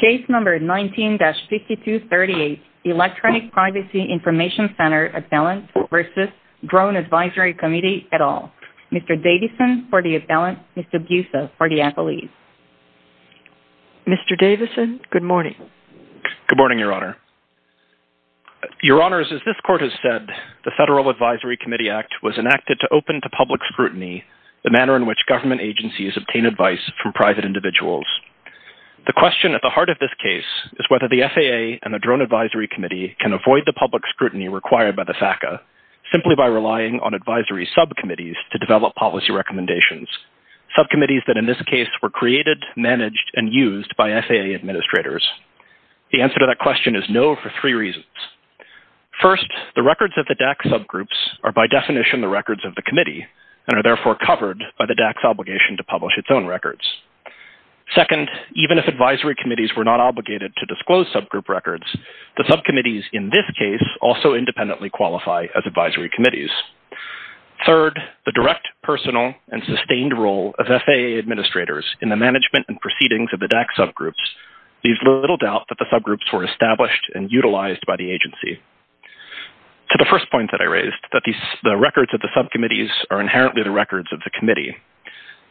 Case No. 19-5238, Electronic Privacy Information Center Appellant v. Drone Advisory Committee et al. Mr. Davison for the appellant, Mr. Busa for the appellees. Mr. Davison, good morning. Good morning, Your Honor. Your Honors, as this Court has said, the Federal Advisory Committee Act was enacted to open to public scrutiny the manner in which government agencies obtain advice from private individuals. The question at the heart of this case is whether the FAA and the Drone Advisory Committee can avoid the public scrutiny required by the FACA simply by relying on advisory subcommittees to develop policy recommendations, subcommittees that in this case were created, managed, and used by FAA administrators. The answer to that question is no for three reasons. First, the records of the DAC subgroups are by definition the records of the committee and are therefore covered by the DAC's obligation to publish its own records. Second, even if advisory committees were not obligated to disclose subgroup records, the subcommittees in this case also independently qualify as advisory committees. Third, the direct, personal, and sustained role of FAA administrators in the management and proceedings of the DAC subgroups leaves little doubt that the subgroups were established and utilized by the agency. To the first point that I raised, that the records of the subcommittees are inherently the records of the committee,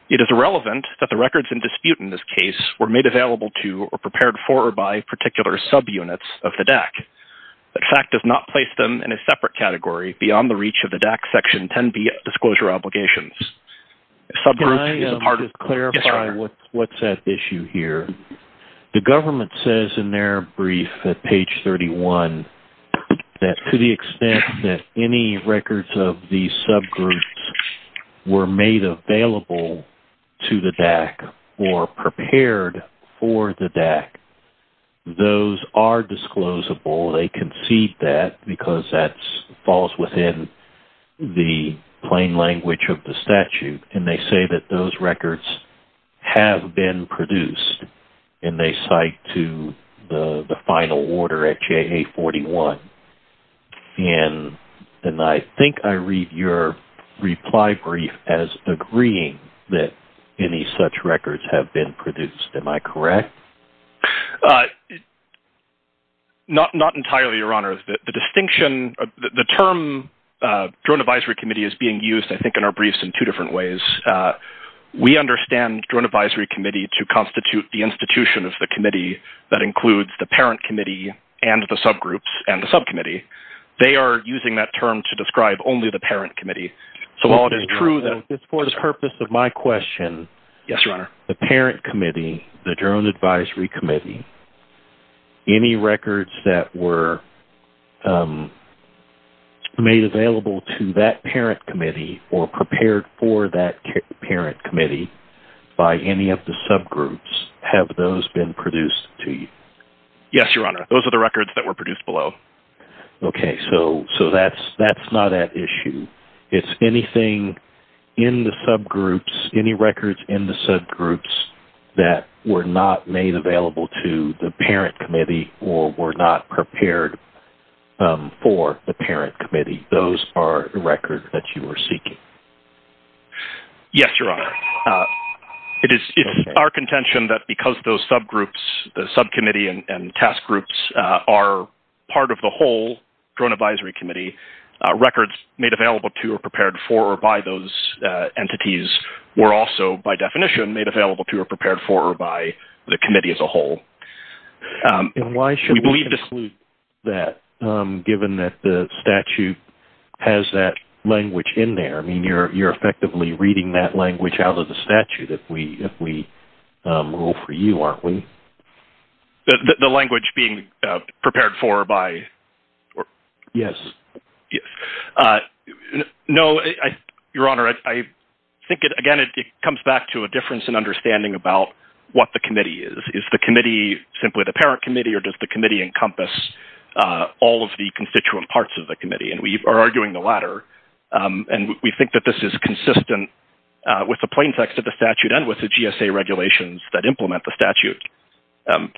it is irrelevant that the records in dispute in this case were made available to or prepared for or by particular subunits of the DAC. The FAC does not place them in a separate category beyond the reach of the DAC Section 10b Disclosure Obligations. Can I clarify what's at issue here? The government says in their brief at page 31 that to the extent that any records of these subgroups were made available to the DAC or prepared for the DAC, those are disclosable. They concede that because that falls within the plain language of the statute. And they say that those records have been produced. And they cite to the final order at JA 41. And I think I read your reply brief as agreeing that any such records have been produced. Am I correct? Not entirely, Your Honor. The distinction, the term drone advisory committee is being used, I think, in our briefs in two different ways. We understand drone advisory committee to constitute the institution of the committee that includes the parent committee and the subgroups and the subcommittee. They are using that term to describe only the parent committee. So while it is true that It's for the purpose of my question. Yes, Your Honor. The parent committee, the drone advisory committee, any records that were made available to that parent committee or prepared for that parent committee by any of the subgroups, have those been produced to you? Yes, Your Honor. Those are the records that were produced below. Okay. So that's not at issue. It's anything in the subgroups, Any records in the subgroups that were not made available to the parent committee or were not prepared for the parent committee, those are the records that you were seeking? Yes, Your Honor. It is our contention that because those subgroups, the subcommittee and task groups are part of the whole drone advisory committee, records made available to or prepared for or by those entities were also, by definition, made available to or prepared for or by the committee as a whole. And why should we include that, given that the statute has that language in there? I mean, you're effectively reading that language out of the statute if we rule for you, aren't we? The language being prepared for or by? Yes. No, Your Honor. I think, again, it comes back to a difference in understanding about what the committee is. Is the committee simply the parent committee or does the committee encompass all of the constituent parts of the committee? And we are arguing the latter. And we think that this is consistent with the plain text of the statute and with the GSA regulations that implement the statute. I'm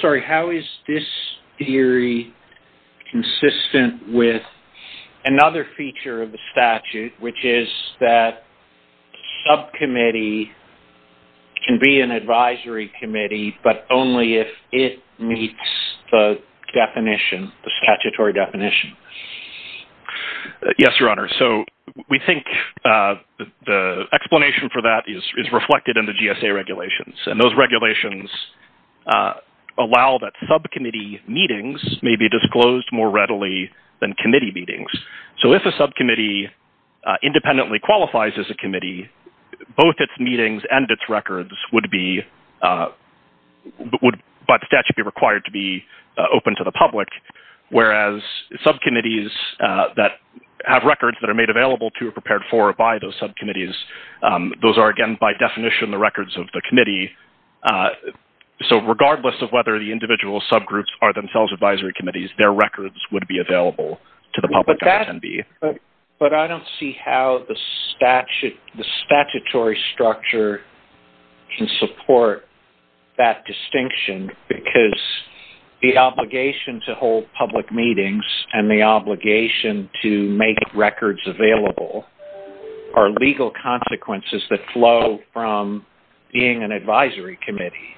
sorry. How is this theory consistent with another feature of the statute, which is that subcommittee can be an advisory committee but only if it meets the definition, the statutory definition? Yes, Your Honor. So we think the explanation for that is reflected in the GSA regulations, and those regulations allow that subcommittee meetings may be disclosed more readily than committee meetings. So if a subcommittee independently qualifies as a committee, both its meetings and its records would, by the statute, be required to be open to the public, whereas subcommittees that have records that are made available to or prepared for or by those subcommittees, those are, again, by definition the records of the committee. So regardless of whether the individual subgroups are themselves advisory committees, their records would be available to the public and attendee. But I don't see how the statutory structure can support that distinction because the obligation to hold public meetings and the obligation to make records available are legal consequences that flow from being an advisory committee.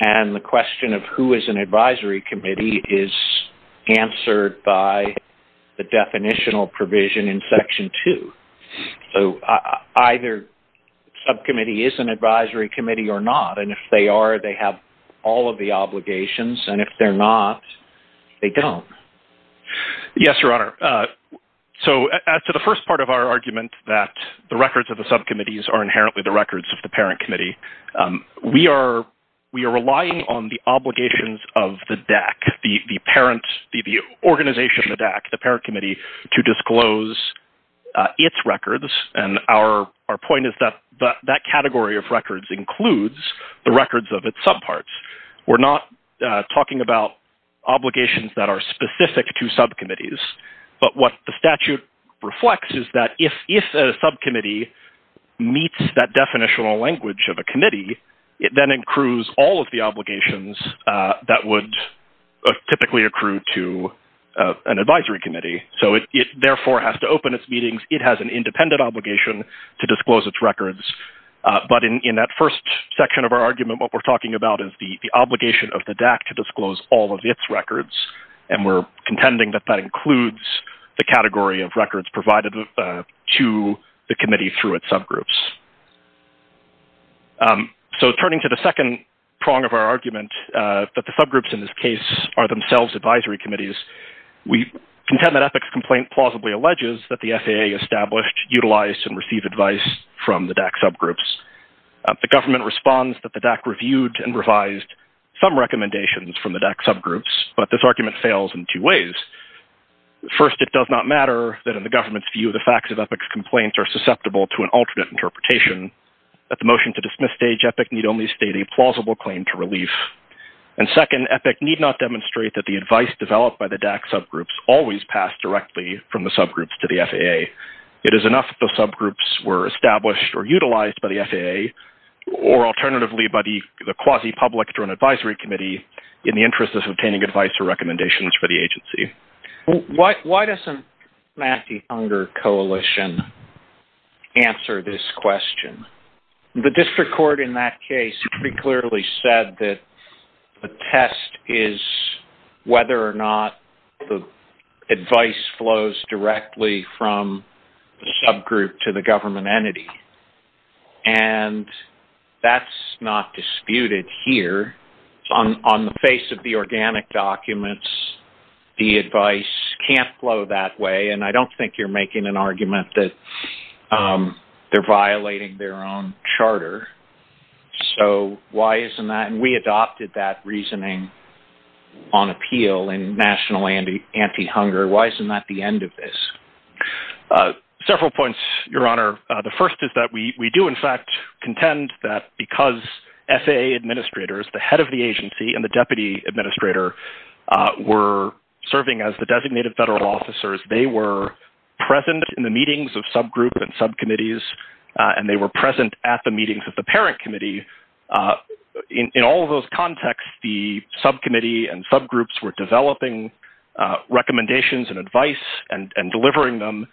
And the question of who is an advisory committee is answered by the definitional provision in Section 2. So either subcommittee is an advisory committee or not, and if they are, they have all of the obligations, and if they're not, they don't. Yes, Your Honor. So as to the first part of our argument, that the records of the subcommittees are inherently the records of the parent committee, we are relying on the obligations of the DAC, the parent, the organization of the DAC, the parent committee, to disclose its records. And our point is that that category of records includes the records of its subparts. We're not talking about obligations that are specific to subcommittees, but what the statute reflects is that if a subcommittee meets that definitional language of a committee, it then accrues all of the obligations that would typically accrue to an advisory committee. So it therefore has to open its meetings. It has an independent obligation to disclose its records. But in that first section of our argument, what we're talking about is the obligation of the DAC to disclose all of its records, and we're contending that that includes the category of records provided to the committee through its subgroups. So turning to the second prong of our argument, that the subgroups in this case are themselves advisory committees, we contend that EPIC's complaint plausibly alleges that the FAA established, utilized, and received advice from the DAC subgroups. The government responds that the DAC reviewed and revised some recommendations from the DAC subgroups, but this argument fails in two ways. First, it does not matter that in the government's view the facts of EPIC's complaints are susceptible to an alternate interpretation. At the motion to dismiss stage, EPIC need only state a plausible claim to relief. And second, EPIC need not demonstrate that the advice developed by the DAC subgroups always passed directly from the subgroups to the FAA. It is enough that the subgroups were established or utilized by the FAA, or alternatively by the quasi-public to an advisory committee, in the interest of obtaining advice or recommendations for the agency. Why doesn't the Anti-Hunger Coalition answer this question? The district court in that case pretty clearly said that the test is whether or not the advice flows directly from the subgroup to the government entity. And that's not disputed here. On the face of the organic documents, the advice can't flow that way, and I don't think you're making an argument that they're violating their own charter. So why isn't that? And we adopted that reasoning on appeal in National Anti-Hunger. Why isn't that the end of this? Several points, Your Honor. The first is that we do in fact contend that because FAA administrators, the head of the agency and the deputy administrator, were serving as the designated federal officers, they were present in the meetings of subgroup and subcommittees, and they were present at the meetings of the parent committee. In all of those contexts, the subcommittee and subgroups were developing recommendations and advice and delivering them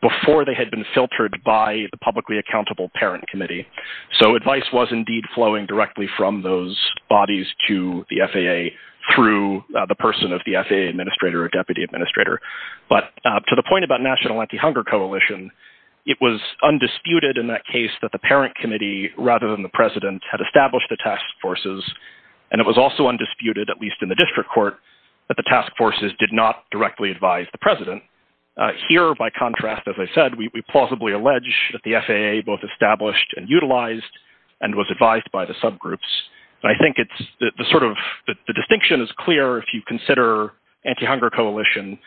before they had been filtered by the publicly accountable parent committee. So advice was indeed flowing directly from those bodies to the FAA through the person of the FAA administrator or deputy administrator. But to the point about National Anti-Hunger Coalition, it was undisputed in that case that the parent committee rather than the president had established the task forces, and it was also undisputed, at least in the district court, that the task forces did not directly advise the president. Here, by contrast, as I said, we plausibly allege that the FAA both established and utilized and was advised by the subgroups. I think the distinction is clear if you consider Anti-Hunger Coalition.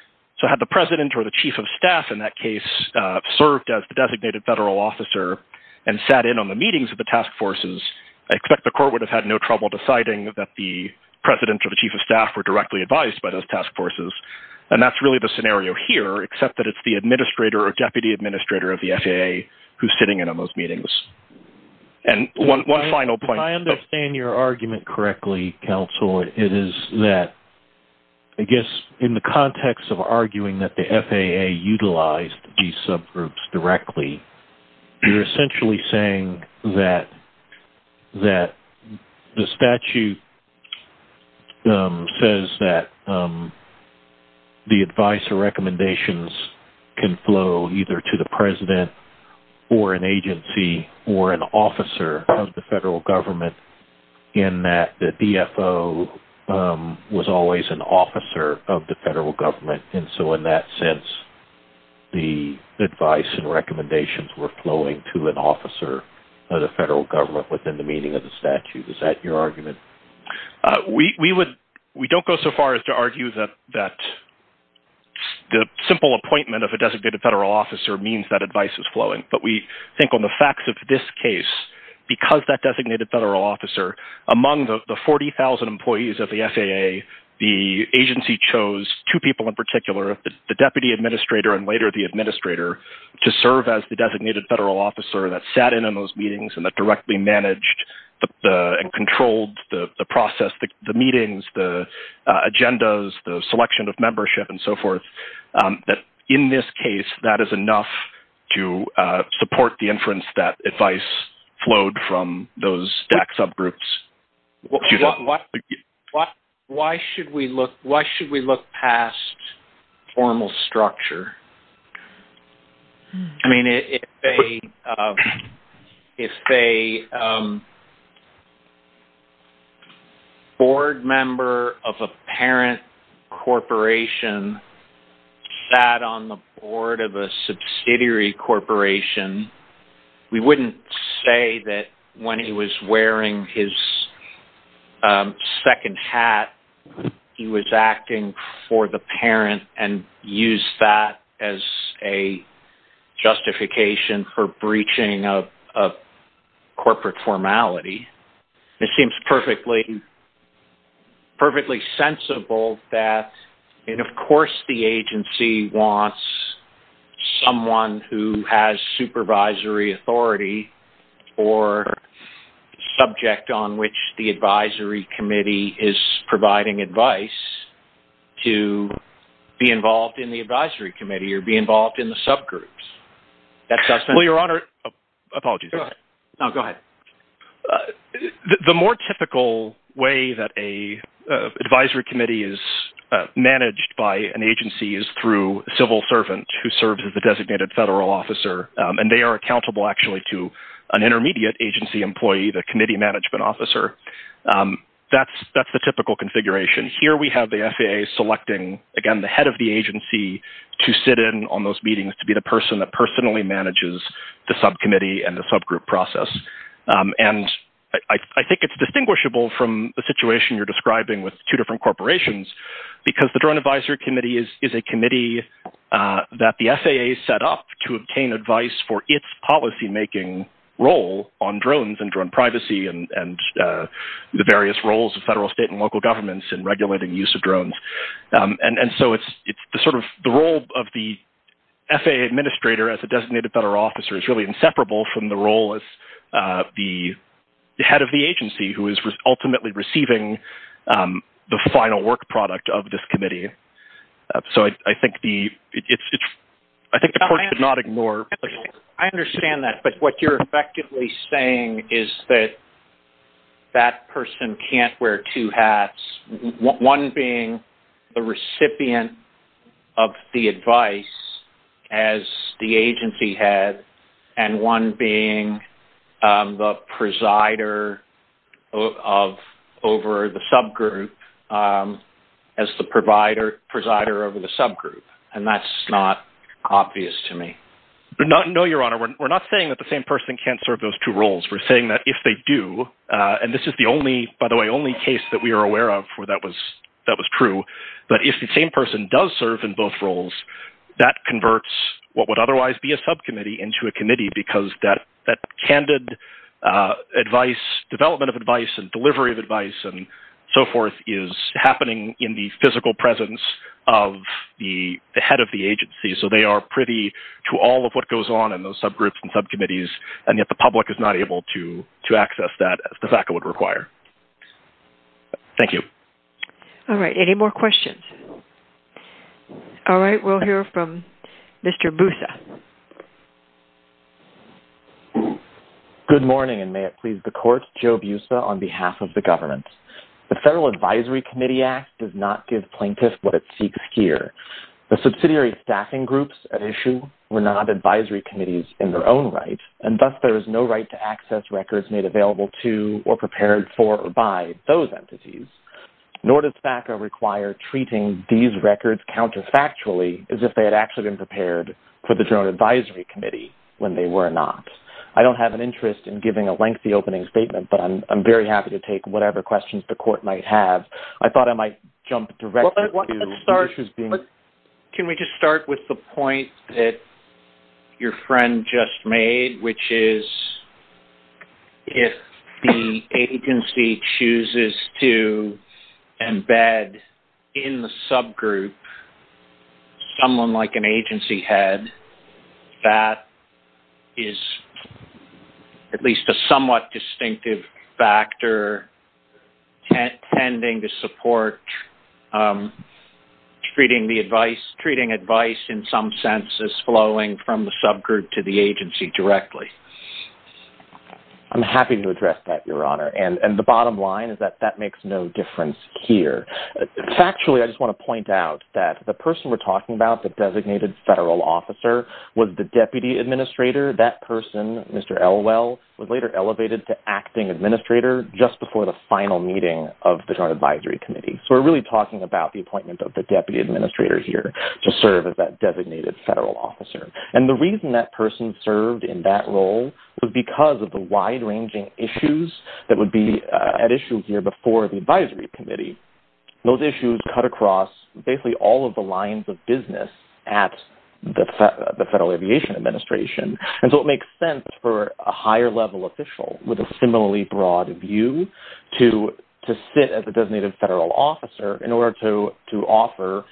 So had the president or the chief of staff in that case served as the designated federal officer and sat in on the meetings of the task forces, I expect the court would have had no trouble deciding that the president or the chief of staff were directly advised by those task forces. And that's really the scenario here, except that it's the administrator or deputy administrator of the FAA who's sitting in on those meetings. And one final point. If I understand your argument correctly, counsel, it is that I guess in the context of arguing that the FAA utilized these subgroups directly, you're essentially saying that the statute says that the advice or recommendations can flow either to the president or an agency or an officer of the federal government, and that the DFO was always an officer of the federal government. And so in that sense, the advice and recommendations were flowing to an officer of the federal government within the meaning of the statute. Is that your argument? We don't go so far as to argue that the simple appointment of a designated federal officer means that advice is flowing. But we think on the facts of this case, because that designated federal officer, among the 40,000 employees of the FAA, the agency chose two people in particular, the deputy administrator and later the administrator, to serve as the designated federal officer that sat in on those meetings and that directly managed and controlled the process, the meetings, the agendas, the selection of membership and so forth. In this case, that is enough to support the inference that advice flowed from those DACS subgroups. Why should we look past formal structure? I mean, if a board member of a parent corporation sat on the board of a subsidiary corporation, we wouldn't say that when he was wearing his second hat, he was acting for the parent and used that as a justification for breaching of corporate formality. It seems perfectly sensible that, and of course the agency wants someone who has supervisory authority or subject on which the advisory committee is providing advice to be involved in the advisory committee or be involved in the subgroups. The more typical way that an advisory committee is managed by an agency is through a civil servant who serves as the designated federal officer. And they are accountable actually to an intermediate agency employee, the committee management officer. That's the typical configuration. Here we have the FAA selecting, again, the head of the agency to sit in on those meetings, to be the person that personally manages the subcommittee and the subgroup process. And I think it's distinguishable from the situation you're describing with two different corporations because the drone advisory committee is a committee that the FAA set up to obtain advice for its policymaking role on drones and drone privacy and the various roles of federal, state, and local governments in regulating use of drones. And so it's the role of the FAA administrator as a designated federal officer is really inseparable from the role of the head of the agency who is ultimately receiving the final work product of this committee. I understand that, but what you're effectively saying is that that person can't wear two hats, one being the recipient of the advice as the agency head and one being the presider over the subgroup as the presider over the subgroup. And that's not obvious to me. No, Your Honor. We're not saying that the same person can't serve those two roles. We're saying that if they do, and this is the only, by the way, only case that we are aware of where that was true, but if the same person does serve in both roles, that converts what would otherwise be a subcommittee into a committee because that candid development of advice and delivery of advice and so forth is happening in the physical presence of the head of the agency. So they are privy to all of what goes on in those subgroups and subcommittees, and yet the public is not able to access that as the FACA would require. Thank you. All right. Any more questions? All right. We'll hear from Mr. Busa. Good morning, and may it please the Court. Joe Busa on behalf of the government. The Federal Advisory Committee Act does not give plaintiffs what it seeks here. The subsidiary staffing groups at issue were not advisory committees in their own right, and thus there is no right to access records made available to or prepared for or by those entities, nor does FACA require treating these records counterfactually as if they had actually been prepared for the General Advisory Committee when they were not. I don't have an interest in giving a lengthy opening statement, but I'm very happy to take whatever questions the Court might have. I thought I might jump directly to… Can we just start with the point that your friend just made, which is if the agency chooses to embed in the subgroup someone like an agency head, that is at least a somewhat distinctive factor tending to support treating advice in some sense as flowing from the subgroup to the agency directly. I'm happy to address that, Your Honor. And the bottom line is that that makes no difference here. Factually, I just want to point out that the person we're talking about, the designated federal officer, was the deputy administrator. That person, Mr. Elwell, was later elevated to acting administrator just before the final meeting of the General Advisory Committee. So we're really talking about the appointment of the deputy administrator here to serve as that designated federal officer. And the reason that person served in that role was because of the wide-ranging issues that would be at issue here before the advisory committee. Those issues cut across basically all of the lines of business at the Federal Aviation Administration. And so it makes sense for a higher-level official with a similarly broad view to sit as a designated federal officer in order to offer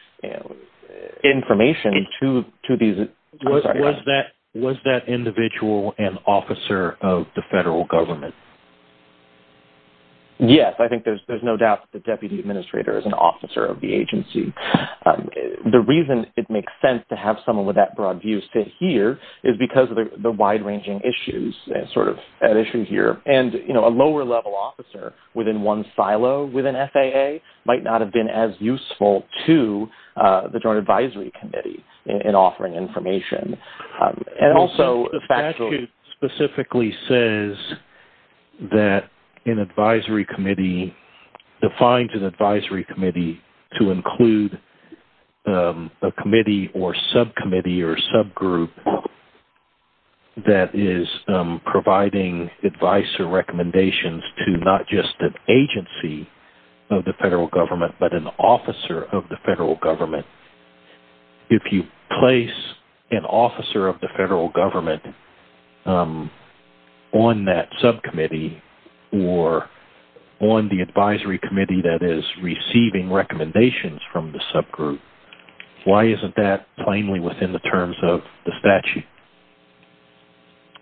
information to these… Was that individual an officer of the federal government? Yes. I think there's no doubt that the deputy administrator is an officer of the agency. The reason it makes sense to have someone with that broad view sit here is because of the wide-ranging issues that are sort of at issue here. And, you know, a lower-level officer within one silo within FAA might not have been as useful to the Joint Advisory Committee in offering information. Also, the statute specifically says that an advisory committee defines an advisory committee to include a committee or subcommittee or subgroup that is providing advice or recommendations to not just an agency of the federal government but an officer of the federal government. If you place an officer of the federal government on that subcommittee or on the advisory committee that is receiving recommendations from the subgroup, why isn't that plainly within the terms of the statute?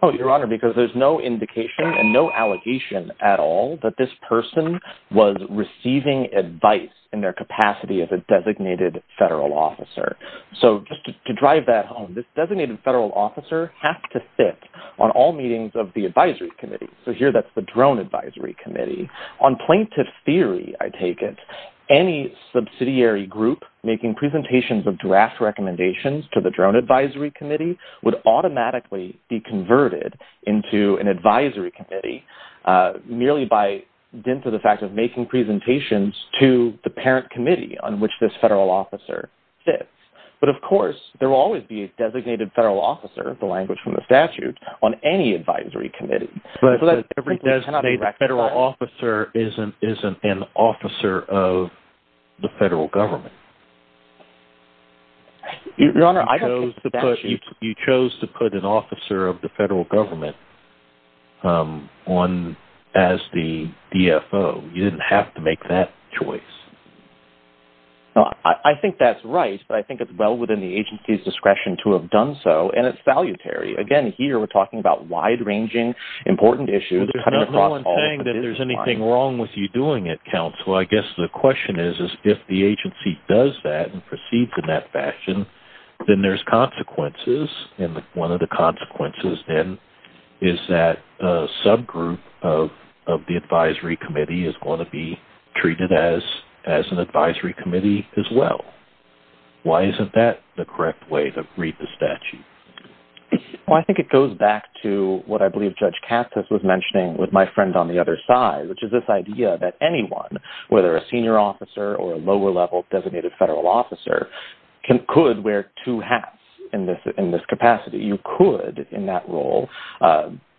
Oh, Your Honor, because there's no indication and no allegation at all that this person was receiving advice in their capacity as a designated federal officer. So just to drive that home, this designated federal officer has to sit on all meetings of the advisory committee. So here, that's the drone advisory committee. On plaintiff theory, I take it, any subsidiary group making presentations of draft recommendations to the drone advisory committee would automatically be converted into an advisory committee merely by dint of the fact of making presentations to the parent committee on which this federal officer sits. But of course, there will always be a designated federal officer, the language from the statute, on any advisory committee. But a designated federal officer isn't an officer of the federal government. Your Honor, I don't think the statute... You chose to put an officer of the federal government on as the DFO. You didn't have to make that choice. I think that's right, but I think it's well within the agency's discretion to have done so, and it's salutary. Again, here, we're talking about wide-ranging, important issues. There's no one saying that there's anything wrong with you doing it, counsel. Well, I guess the question is, if the agency does that and proceeds in that fashion, then there's consequences, and one of the consequences then is that a subgroup of the advisory committee is going to be treated as an advisory committee as well. Why isn't that the correct way to read the statute? Well, I think it goes back to what I believe Judge Katsas was mentioning with my friend on the other side, which is this idea that anyone, whether a senior officer or a lower-level designated federal officer, could wear two hats in this capacity. You could, in that role,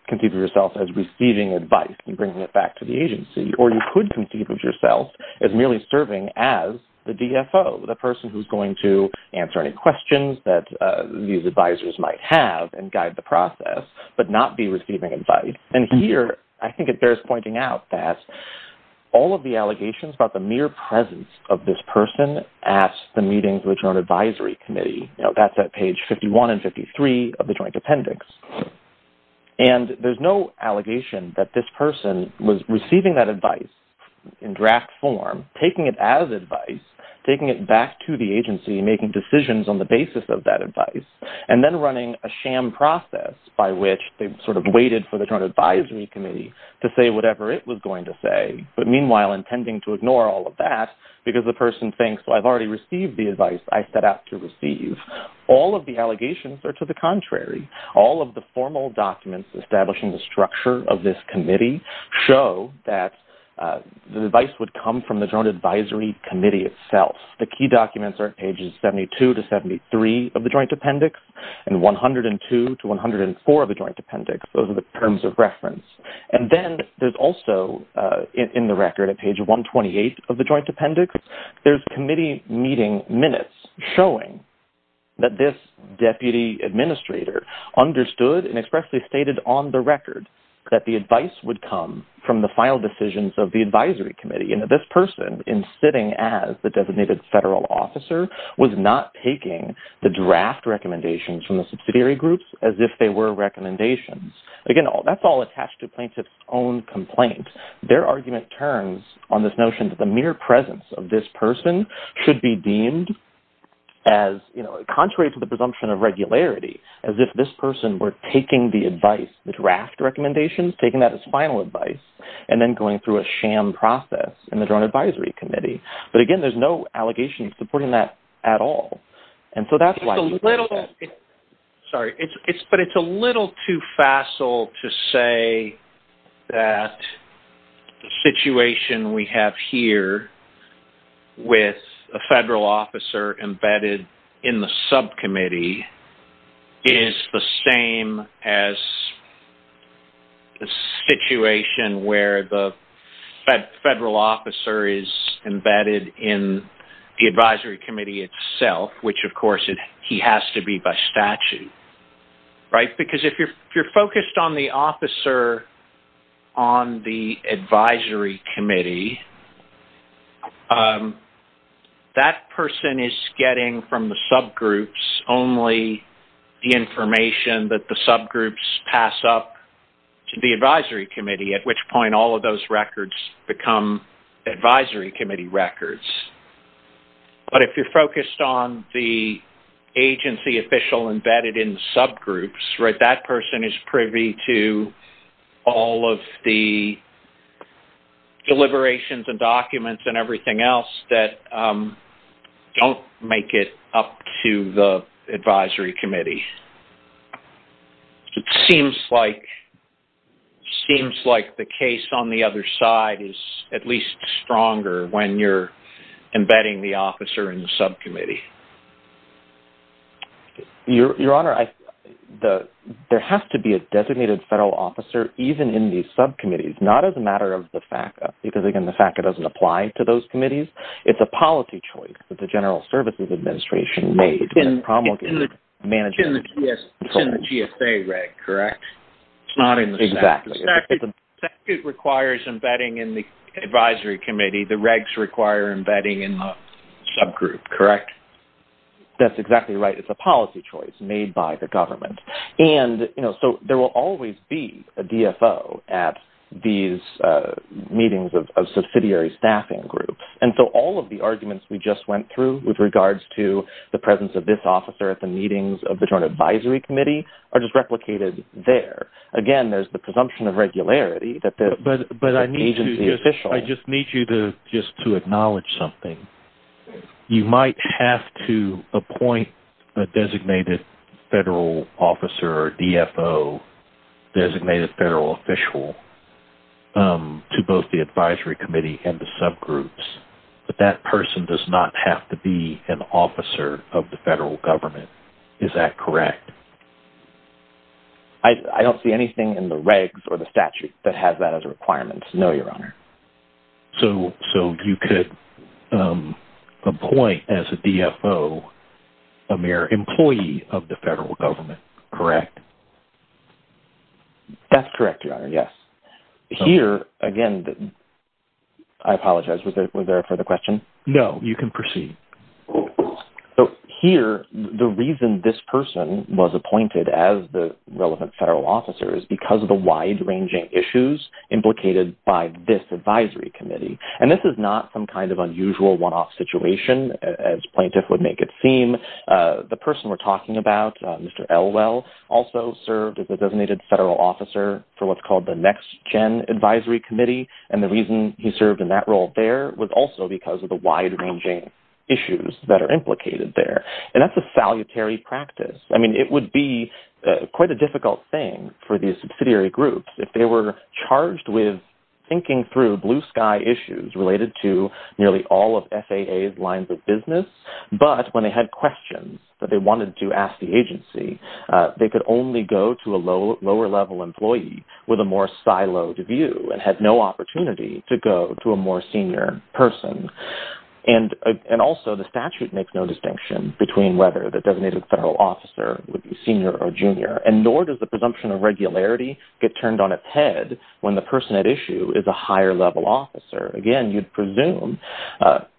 conceive of yourself as receiving advice and bringing it back to the agency, or you could conceive of yourself as merely serving as the DFO, the person who's going to answer any questions that these advisors might have and guide the process, but not be receiving advice. And here, I think it bears pointing out that all of the allegations about the mere presence of this person at the meetings of the Joint Advisory Committee, that's at page 51 and 53 of the Joint Appendix. And there's no allegation that this person was receiving that advice in draft form, taking it out of the advice, taking it back to the agency, making decisions on the basis of that advice, and then running a sham process by which they sort of waited for the Joint Advisory Committee to say whatever it was going to say, but meanwhile intending to ignore all of that because the person thinks, well, I've already received the advice I set out to receive. All of the allegations are to the contrary. All of the formal documents establishing the structure of this committee show that the advice would come from the Joint Advisory Committee itself. The key documents are pages 72 to 73 of the Joint Appendix and 102 to 104 of the Joint Appendix. Those are the terms of reference. And then there's also in the record at page 128 of the Joint Appendix, there's committee meeting minutes showing that this deputy administrator understood and expressly stated on the record that the advice would come from the final decisions of the Advisory Committee. You know, this person, in sitting as the designated federal officer, was not taking the draft recommendations from the subsidiary groups as if they were recommendations. Again, that's all attached to plaintiff's own complaint. Their argument turns on this notion that the mere presence of this person should be deemed as, you know, contrary to the presumption of regularity, as if this person were taking the advice, the draft recommendations, taking that as final advice, and then going through a sham process in the Joint Advisory Committee. But again, there's no allegations supporting that at all. And so that's why... Sorry. But it's a little too facile to say that the situation we have here with a federal officer embedded in the subcommittee is the same as the situation where the federal officer is embedded in the Advisory Committee itself, which, of course, he has to be by statute, right? Because if you're focused on the officer on the Advisory Committee, that person is getting from the subgroups only the information that the subgroups pass up to the Advisory Committee, at which point all of those records become Advisory Committee records. But if you're focused on the agency official embedded in the subgroups, right, that person is privy to all of the deliberations and documents and everything else that don't make it up to the Advisory Committee. It seems like the case on the other side is at least stronger when you're embedding the officer in the subcommittee. Your Honor, there has to be a designated federal officer even in these subcommittees, not as a matter of the FACA, because, again, the FACA doesn't apply to those committees. It's a policy choice that the General Services Administration made. It's in the GSA reg, correct? It's not in the statute. Exactly. The statute requires embedding in the Advisory Committee. The regs require embedding in the subgroup, correct? That's exactly right. It's a policy choice made by the government. So there will always be a DFO at these meetings of subsidiary staffing groups. And so all of the arguments we just went through with regards to the presence of this officer at the meetings of the Joint Advisory Committee are just replicated there. Again, there's the presumption of regularity that the agency official... or DFO, designated federal official, to both the Advisory Committee and the subgroups. But that person does not have to be an officer of the federal government. Is that correct? I don't see anything in the regs or the statute that has that as a requirement. No, Your Honor. So you could appoint as a DFO a mere employee of the federal government, correct? That's correct, Your Honor, yes. Here, again, I apologize. Was there a further question? No, you can proceed. So here, the reason this person was appointed as the relevant federal officer is because of the wide-ranging issues implicated by this Advisory Committee. And this is not some kind of unusual one-off situation, as plaintiff would make it seem. The person we're talking about, Mr. Elwell, also served as a designated federal officer for what's called the Next Gen Advisory Committee. And the reason he served in that role there was also because of the wide-ranging issues that are implicated there. And that's a salutary practice. I mean, it would be quite a difficult thing for these subsidiary groups if they were charged with thinking through blue-sky issues related to nearly all of FAA's lines of business. But when they had questions that they wanted to ask the agency, they could only go to a lower-level employee with a more siloed view and had no opportunity to go to a more senior person. And also, the statute makes no distinction between whether the designated federal officer would be senior or junior. And nor does the presumption of regularity get turned on its head when the person at issue is a higher-level officer. Again, you'd presume,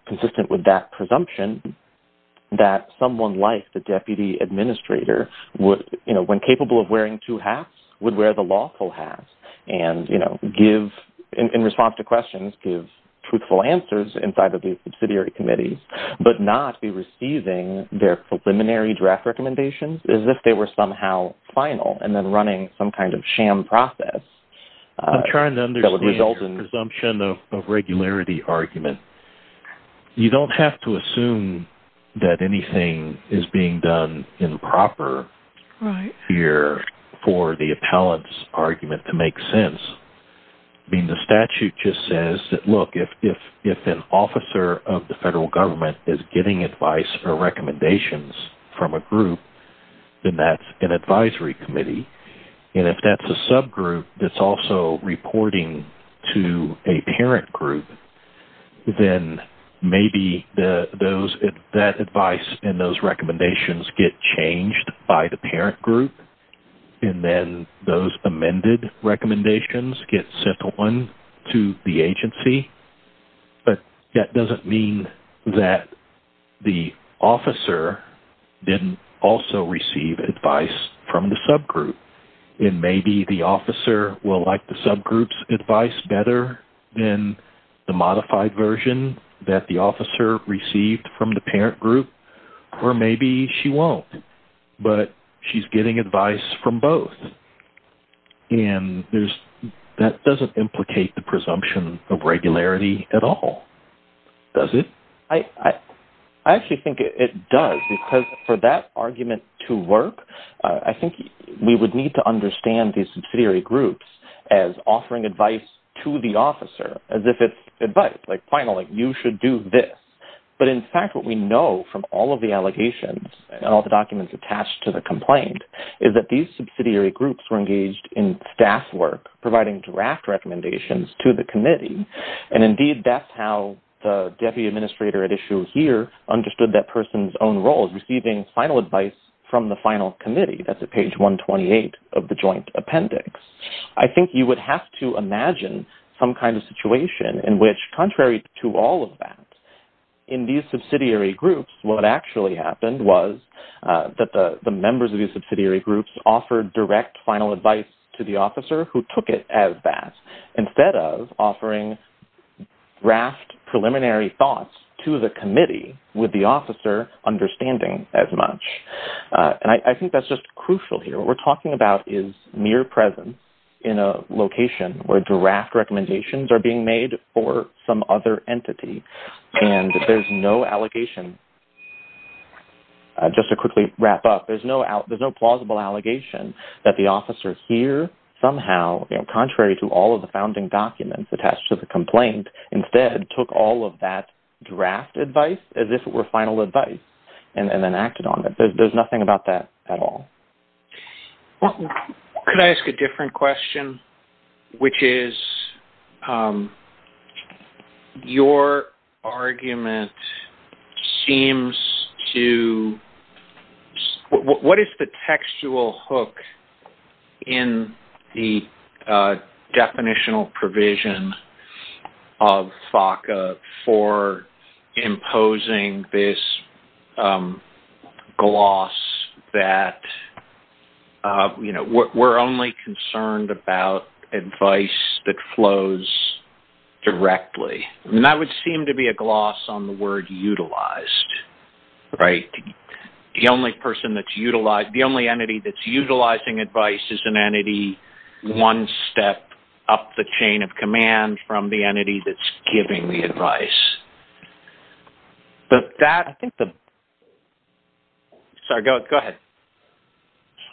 consistent with that presumption, that someone like the deputy administrator would, when capable of wearing two hats, would wear the lawful hat and, you know, in response to questions, give truthful answers inside of these subsidiary committees but not be receiving their preliminary draft recommendations as if they were somehow final and then running some kind of sham process. I'm trying to understand your presumption of regularity argument. You don't have to assume that anything is being done improper here for the appellant's argument to make sense. I mean, the statute just says that, look, if an officer of the federal government is getting advice or recommendations from a group, then that's an advisory committee. And if that's a subgroup that's also reporting to a parent group, then maybe that advice and those recommendations get changed by the parent group and then those amended recommendations get sent on to the agency. But that doesn't mean that the officer didn't also receive advice from the subgroup. And maybe the officer will like the subgroup's advice better than the modified version that the officer received from the parent group or maybe she won't, but she's getting advice from both. And that doesn't implicate the presumption of regularity at all, does it? I actually think it does because for that argument to work, I think we would need to understand these subsidiary groups as offering advice to the officer as if it's advice, like, finally, you should do this. But in fact, what we know from all of the allegations and all the documents attached to the complaint is that these subsidiary groups were engaged in staff work, providing draft recommendations to the committee. And indeed, that's how the deputy administrator at issue here understood that person's own role, receiving final advice from the final committee. That's at page 128 of the joint appendix. I think you would have to imagine some kind of situation in which contrary to all of that, in these subsidiary groups, what actually happened was that the members of these subsidiary groups offered direct final advice to the officer who took it as that instead of offering draft preliminary thoughts to the committee with the officer understanding as much. And I think that's just crucial here. What we're talking about is mere presence in a location where draft recommendations are being made for some other entity. And there's no allegation. Just to quickly wrap up, there's no plausible allegation that the officer here somehow, contrary to all of the founding documents attached to the complaint, instead took all of that draft advice as if it were final advice and then acted on it. There's nothing about that at all. Could I ask a different question, which is your argument seems to... What is the textual hook in the definitional provision of FACA for imposing this gloss that, you know, we're only concerned about advice that flows directly? And that would seem to be a gloss on the word utilized, right? The only entity that's utilizing advice is an entity one step up the chain of command from the entity that's giving the advice. Does that... Sorry, go ahead.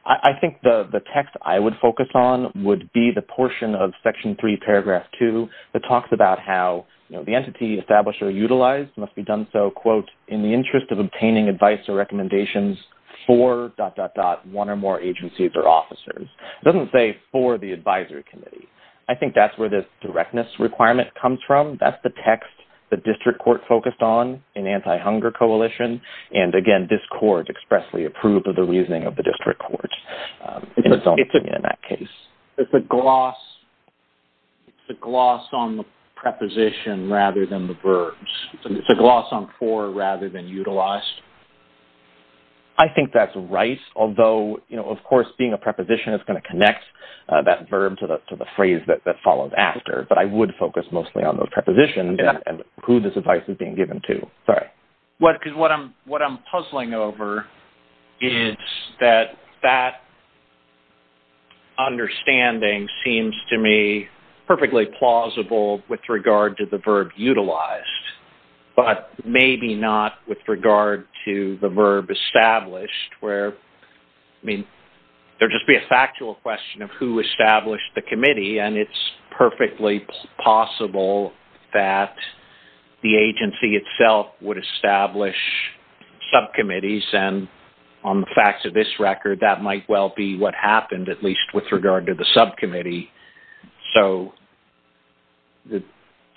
I think the text I would focus on would be the portion of Section 3, Paragraph 2, that talks about how, you know, the entity established or utilized must be done so, quote, in the interest of obtaining advice or recommendations for dot, dot, dot, one or more agencies or officers. It doesn't say for the advisory committee. I think that's where this directness requirement comes from. That's the text the district court focused on in Anti-Hunger Coalition. And, again, this court expressly approved of the reasoning of the district court in that case. It's a gloss on the preposition rather than the verbs. It's a gloss on for rather than utilized. Of course, being a preposition, it's going to connect that verb to the phrase that follows after, but I would focus mostly on those prepositions and who this advice is being given to. What I'm puzzling over is that that understanding seems to me perfectly plausible with regard to the verb utilized, but maybe not with regard to the verb established where, I mean, there'd just be a factual question of who established the committee and it's perfectly possible that the agency itself would establish subcommittees and on the facts of this record, that might well be what happened, at least with regard to the subcommittee. So the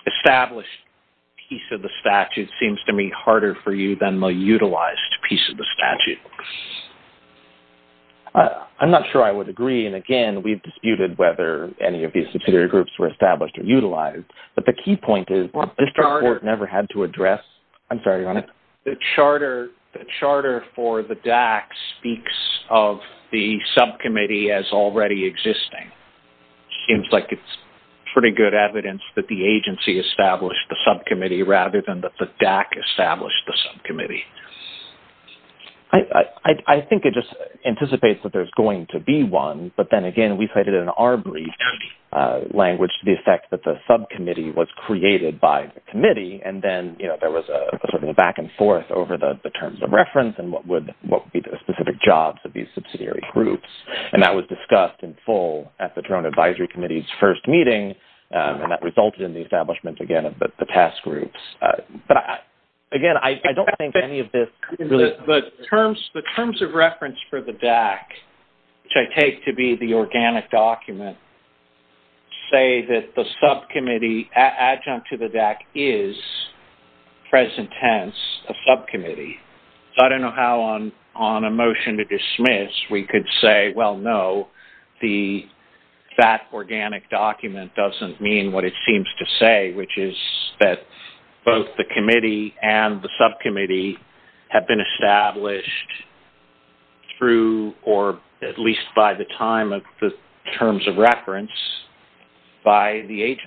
established piece of the statute seems to me harder for you than the utilized piece of the statute. I'm not sure I would agree. And, again, we've disputed whether any of these superior groups were established or utilized, but the key point is the district court never had to address. I'm sorry. The charter for the DAC speaks of the subcommittee as already existing. It seems like it's pretty good evidence that the agency established the subcommittee rather than that the DAC established the subcommittee. I think it just anticipates that there's going to be one, but then, again, we cited in our brief language the effect that the subcommittee was created by the committee and then there was sort of a back and forth over the terms of reference and what would be the specific jobs of these subsidiary groups, and that was discussed in full at the Toronto Advisory Committee's first meeting and that resulted in the establishment, again, of the task groups. But, again, I don't think any of this really... The terms of reference for the DAC, which I take to be the organic document, say that the subcommittee adjunct to the DAC is, present tense, a subcommittee. So I don't know how on a motion to dismiss we could say, well, no, that organic document doesn't mean what it seems to say, which is that both the committee and the subcommittee have been established through or at least by the time of the terms of reference by the agency.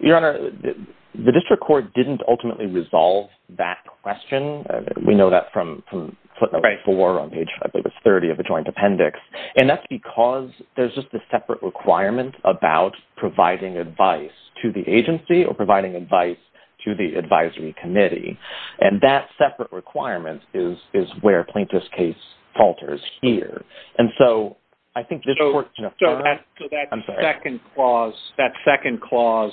Your Honor, the district court didn't ultimately resolve that question. We know that from footnote four on page five. It was 30 of the joint appendix. And that's because there's just a separate requirement about providing advice to the agency or providing advice to the advisory committee, and that separate requirement is where Plaintiff's case falters here. And so I think this court... So that second clause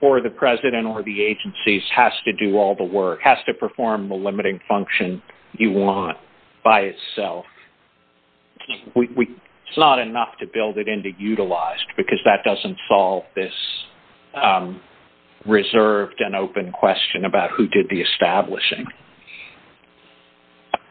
for the president or the agencies has to do all the work, or has to perform the limiting function you want by itself. It's not enough to build it into utilized because that doesn't solve this reserved and open question about who did the establishing.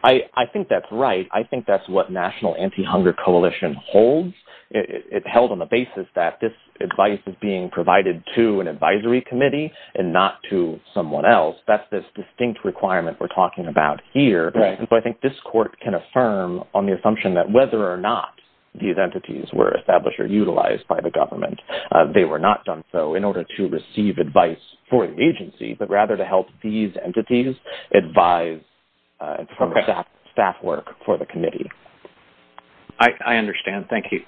I think that's right. I think that's what National Anti-Hunger Coalition holds. It's held on the basis that this advice is being provided to an advisory committee and not to someone else. That's this distinct requirement we're talking about here. And so I think this court can affirm on the assumption that whether or not these entities were established or utilized by the government, they were not done so in order to receive advice for the agency, but rather to help these entities advise staff work for the committee. I understand. Thank you.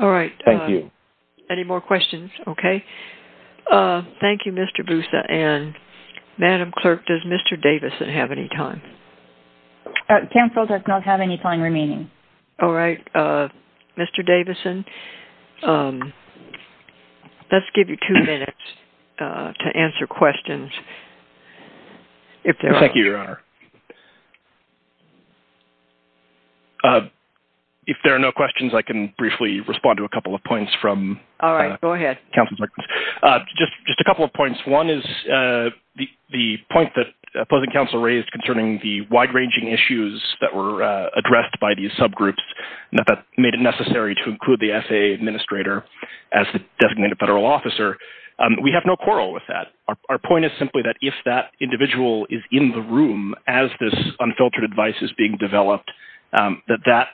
All right. Thank you. Any more questions? Okay. Thank you, Mr. Boussa. And Madam Clerk, does Mr. Davison have any time? Counsel does not have any time remaining. All right. Mr. Davison, let's give you two minutes to answer questions. Thank you, Your Honor. If there are no questions, I can briefly respond to a couple of points from counsel's records. All right. Go ahead. Just a couple of points. One is the point that opposing counsel raised concerning the wide-ranging issues that were addressed by these subgroups that made it necessary to include the S.A. Administrator as the designated federal officer. We have no quarrel with that. Our point is simply that if that individual is in the room, as this unfiltered advice is being developed, that that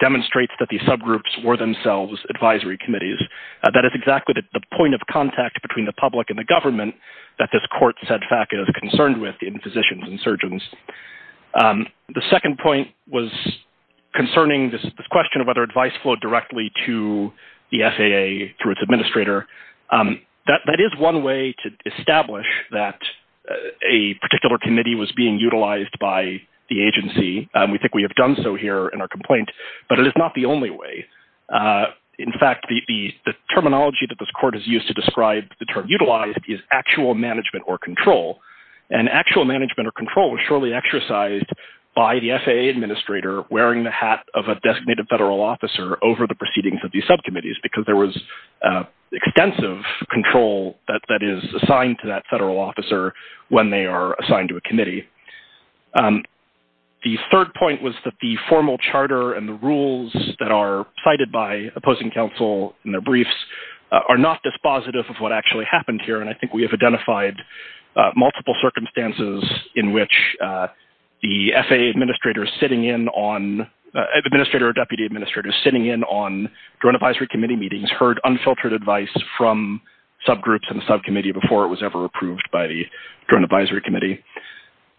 demonstrates that these subgroups were themselves advisory committees. That is exactly the point of contact between the public and the government that this court said FACA is concerned with in physicians and surgeons. The second point was concerning this question of whether advice flowed directly to the S.A. Administrator. That is one way to establish that a particular committee was being utilized by the agency. We think we have done so here in our complaint, but it is not the only way. In fact, the terminology that this court has used to describe the term utilized is actual management or control. And actual management or control was surely exercised by the S.A. Administrator, wearing the hat of a designated federal officer over the proceedings of these subcommittees, because there was extensive control that is assigned to that federal officer when they are assigned to a committee. The third point was that the formal charter and the rules that are cited by opposing counsel in their briefs are not dispositive of what actually happened here. And I think we have identified multiple circumstances in which the S.A. Administrator is sitting in on, the S.A. Administrator or deputy administrator sitting in on drone advisory committee meetings heard unfiltered advice from subgroups and subcommittee before it was ever approved by the drone advisory committee.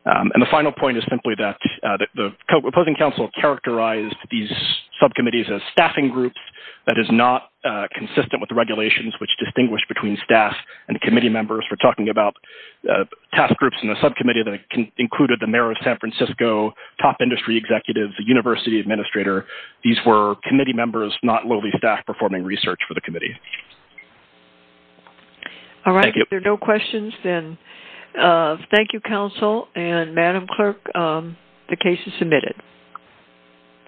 And the final point is simply that the opposing counsel characterized these subcommittees as staffing groups. That is not consistent with the regulations, which distinguish between staff and committee members. We're talking about task groups in the subcommittee that included the mayor of San Francisco, top industry executives, the university administrator. These were committee members, not lowly staff, performing research for the committee. All right. If there are no questions, then thank you, counsel. And Madam Clerk, the case is submitted.